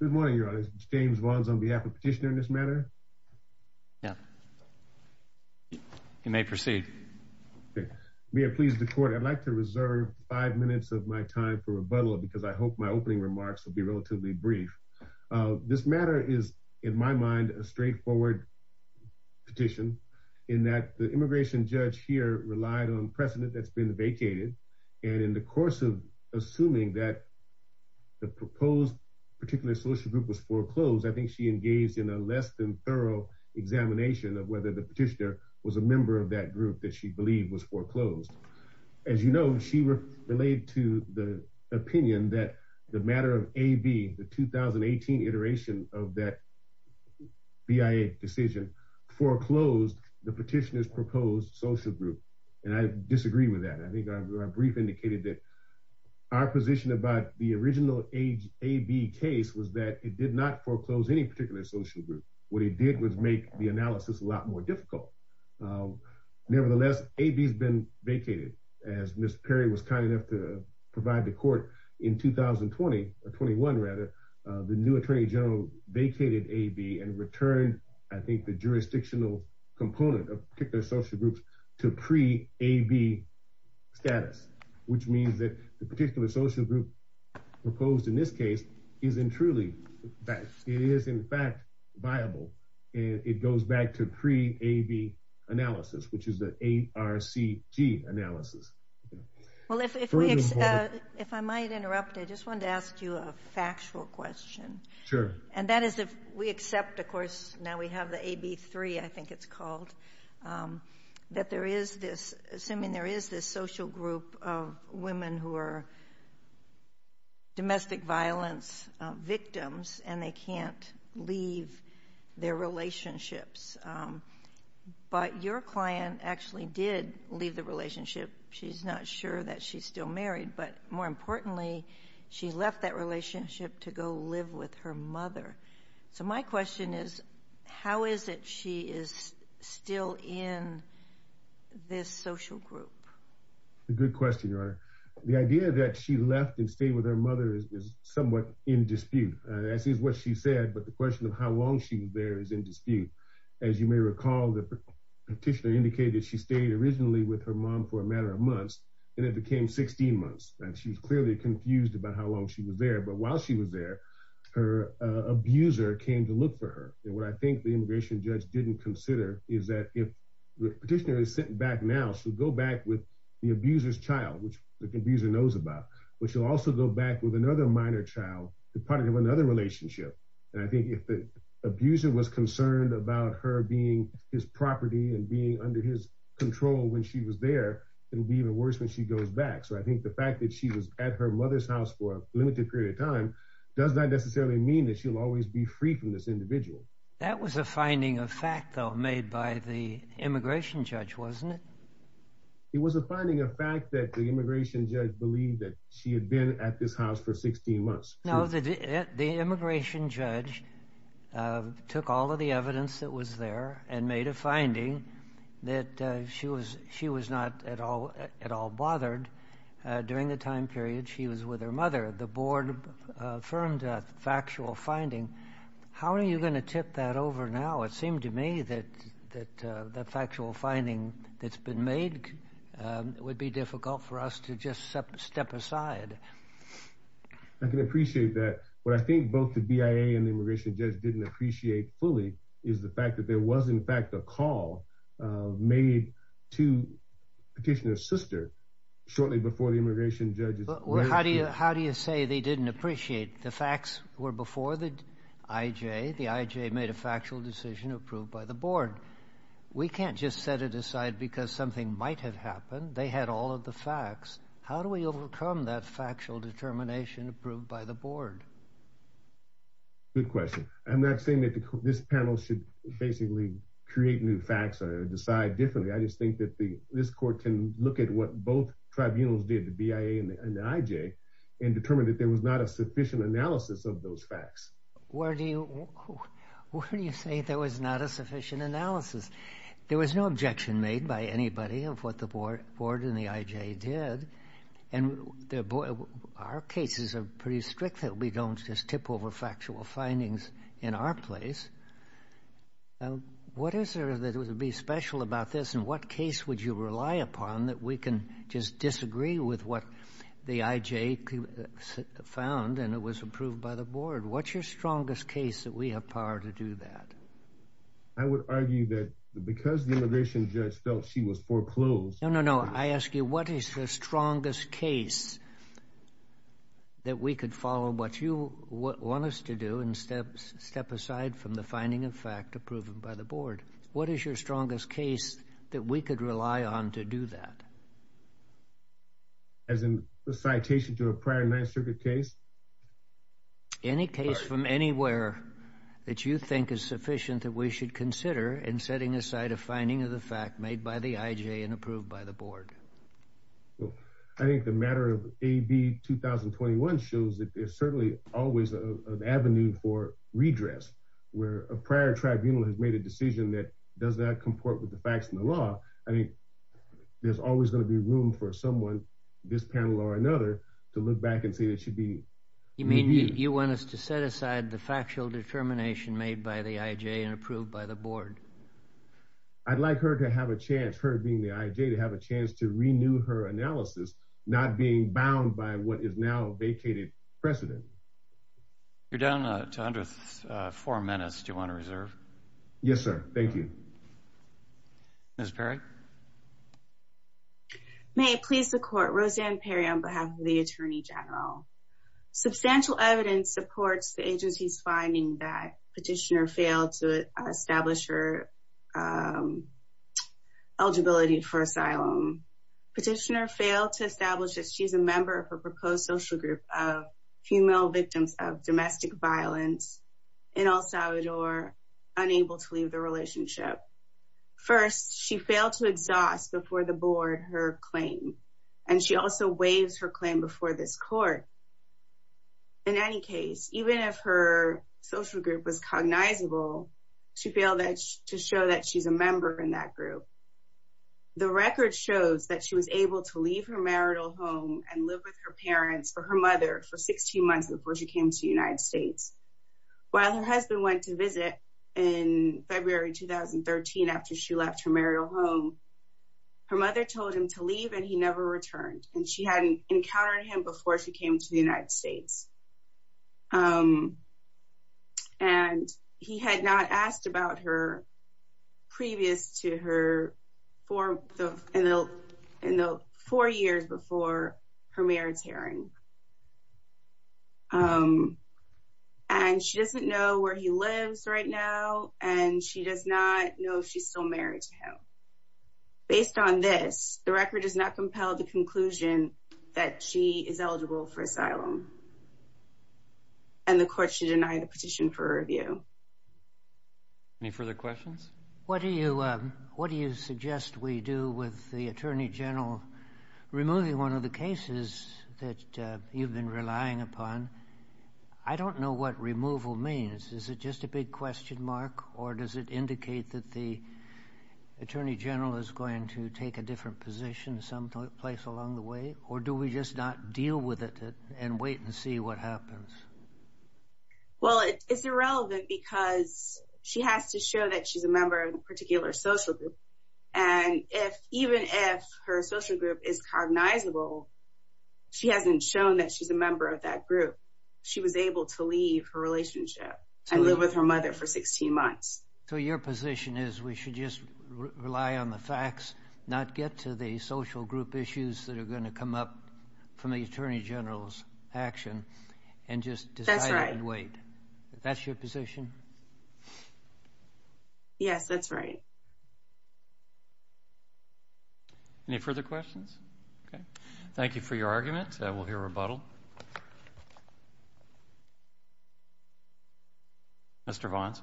Good morning, Your Honor. It's James Vons on behalf of Petitioner in this matter. Yeah. You may proceed. May it please the Court, I'd like to reserve five minutes of my time for rebuttal because I hope my opening remarks will be relatively brief. This matter is, in my mind, a straightforward petition in that the immigration judge here relied on precedent that's been vacated, and in the course of assuming that the proposed particular social group was foreclosed, I think she engaged in a less than thorough examination of whether the petitioner was a member of that group that she believed was foreclosed. As you know, she relayed to the opinion that the matter of AB, the 2018 iteration of that BIA decision, foreclosed the petitioner's social group, and I disagree with that. I think our brief indicated that our position about the original AB case was that it did not foreclose any particular social group. What it did was make the analysis a lot more difficult. Nevertheless, AB's been vacated. As Ms. Perry was kind enough to provide the Court in 2020, or 21 rather, the new Attorney General vacated AB and returned, I think, the jurisdictional component of particular social groups to pre-AB status, which means that the particular social group proposed in this case isn't truly, in fact, viable. It goes back to pre-AB analysis, which is the ARCG analysis. Well, if I might interrupt, I just wanted to ask you a factual question. Sure. And that is if we accept, of course, now we have the AB-3, I think it's called, that there is this, assuming there is this social group of women who are domestic violence victims and they can't leave their relationships, but your client actually did leave the relationship. She's not sure that she's still married, but more importantly, she left that relationship to go live with her mother. So my question is, how is it she is still in this social group? Good question, Your Honor. The idea that she left and stayed with her mother is somewhat in dispute. That is what she said, but the question of how long she was there is in dispute. As you may recall, the petitioner indicated she stayed originally with her mom for a matter of months, and it became 16 months, and she was clearly confused about how long she was there. But while she was there, her abuser came to look for her. And what I think the immigration judge didn't consider is that if the petitioner is sitting back now, she'll go back with the abuser's child, which the abuser knows about, but she'll also go back with another minor child to part of another relationship. And I think if the abuser was concerned about her being his property and being under his control when she was there, it'll be even worse when she goes back. So I think the fact that she was at her mother's house for a limited period of time does not necessarily mean that she'll always be free from this individual. That was a finding of fact, though, made by the immigration judge, wasn't it? It was a finding of fact that the immigration judge believed that she had been at this house for 16 months. Now, the immigration judge took all of the evidence that was there and made a finding that she was not at all bothered during the time period she was with her mother. The board affirmed that factual finding. How are you going to tip that over now? It seemed to me that the factual finding that's been made would be difficult for us to just step aside. I can appreciate that. What I think both the BIA and the immigration judge didn't appreciate fully is the fact that there was, in fact, a call made to Petitioner's sister shortly before the immigration judge. How do you say they didn't appreciate the facts were before the IJ? The IJ made a factual decision approved by the board. We can't just set it aside because something might have happened. They had all of the facts. How do we overcome that factual determination approved by the board? Good question. I'm not saying that this panel should basically create new facts or decide differently. I just think that this court can look at what both tribunals did, the BIA and the IJ, and determine that there was not a sufficient analysis of those facts. Where do you say there was not a sufficient analysis? There was no objection made by the district that we don't just tip over factual findings in our place. What is there that would be special about this, and what case would you rely upon that we can just disagree with what the IJ found and it was approved by the board? What's your strongest case that we have power to do that? I would argue that because the immigration judge felt she was foreclosed. No, no, no. I ask you, what is the strongest case that we could follow what you want us to do and step aside from the finding of fact approved by the board? What is your strongest case that we could rely on to do that? As in the citation to a prior 9th Circuit case? Any case from anywhere that you think is sufficient that we should consider in setting aside a finding of the fact made by the IJ and approved by the board? Well, I think the matter of AB 2021 shows that there's certainly always an avenue for redress, where a prior tribunal has made a decision that does not comport with the facts in the law. I think there's always going to be room for someone, this panel or another, to look back and say that should be. You mean you want us to set aside the factual determination made by the IJ and approved by the board? I'd like her to have a chance, her being the IJ, to have a chance to renew her analysis, not being bound by what is now vacated precedent. You're down to under four minutes. Do you want to reserve? Yes, sir. Thank you. Ms. Perry? May it please the court, Roseanne Perry on behalf of the Attorney General. Substantial evidence supports the agency's finding that petitioner failed to establish her eligibility for asylum. Petitioner failed to establish that she's a member of her proposed social group of female victims of domestic violence in El Salvador, unable to leave the relationship. First, she failed to exhaust before the board her claim, and she also waives her claim before this court. In any case, even if her social group was cognizable, she failed to show that she's a member in that group. The record shows that she was able to leave her marital home and live with her parents or her mother for 16 months before she came to the United States. While her husband went to visit in February 2013 after she left her marital home, her mother told him to leave and he never returned, and she hadn't encountered him before she came to the United States. And he had not asked about her previous to her in the four years before her marriage hearing. And she doesn't know where he lives right now, and she does not know if she's still married to him. Based on this, the record does not compel the conclusion that she is eligible for asylum, and the court should deny the petition for review. Any further questions? What do you suggest we do with the attorney general removing one of the cases that you've been relying upon? I don't know what removal means. Is it just a big question mark, or does it indicate that the attorney general is going to take a different position someplace along the way, or do we just not deal with it and wait and see what happens? Well, it's irrelevant because she has to show that she's a member of a particular social group, and even if her social group is cognizable, she hasn't shown that she's a member of that group. She was able to leave her relationship and live with her mother for 16 months. So your position is we should just rely on the facts, not get to the social group issues that are going to come up from the attorney general's action, and just decide and wait. That's your position? Yes, that's right. Any further questions? Okay. Thank you for your argument. We'll hear rebuttal. Mr. Vons?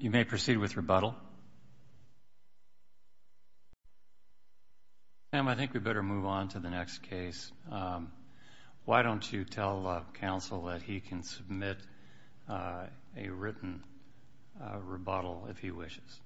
You may proceed with rebuttal. Sam, I think we better move on to the next case. Why don't you tell counsel that he can submit a written rebuttal if he wishes?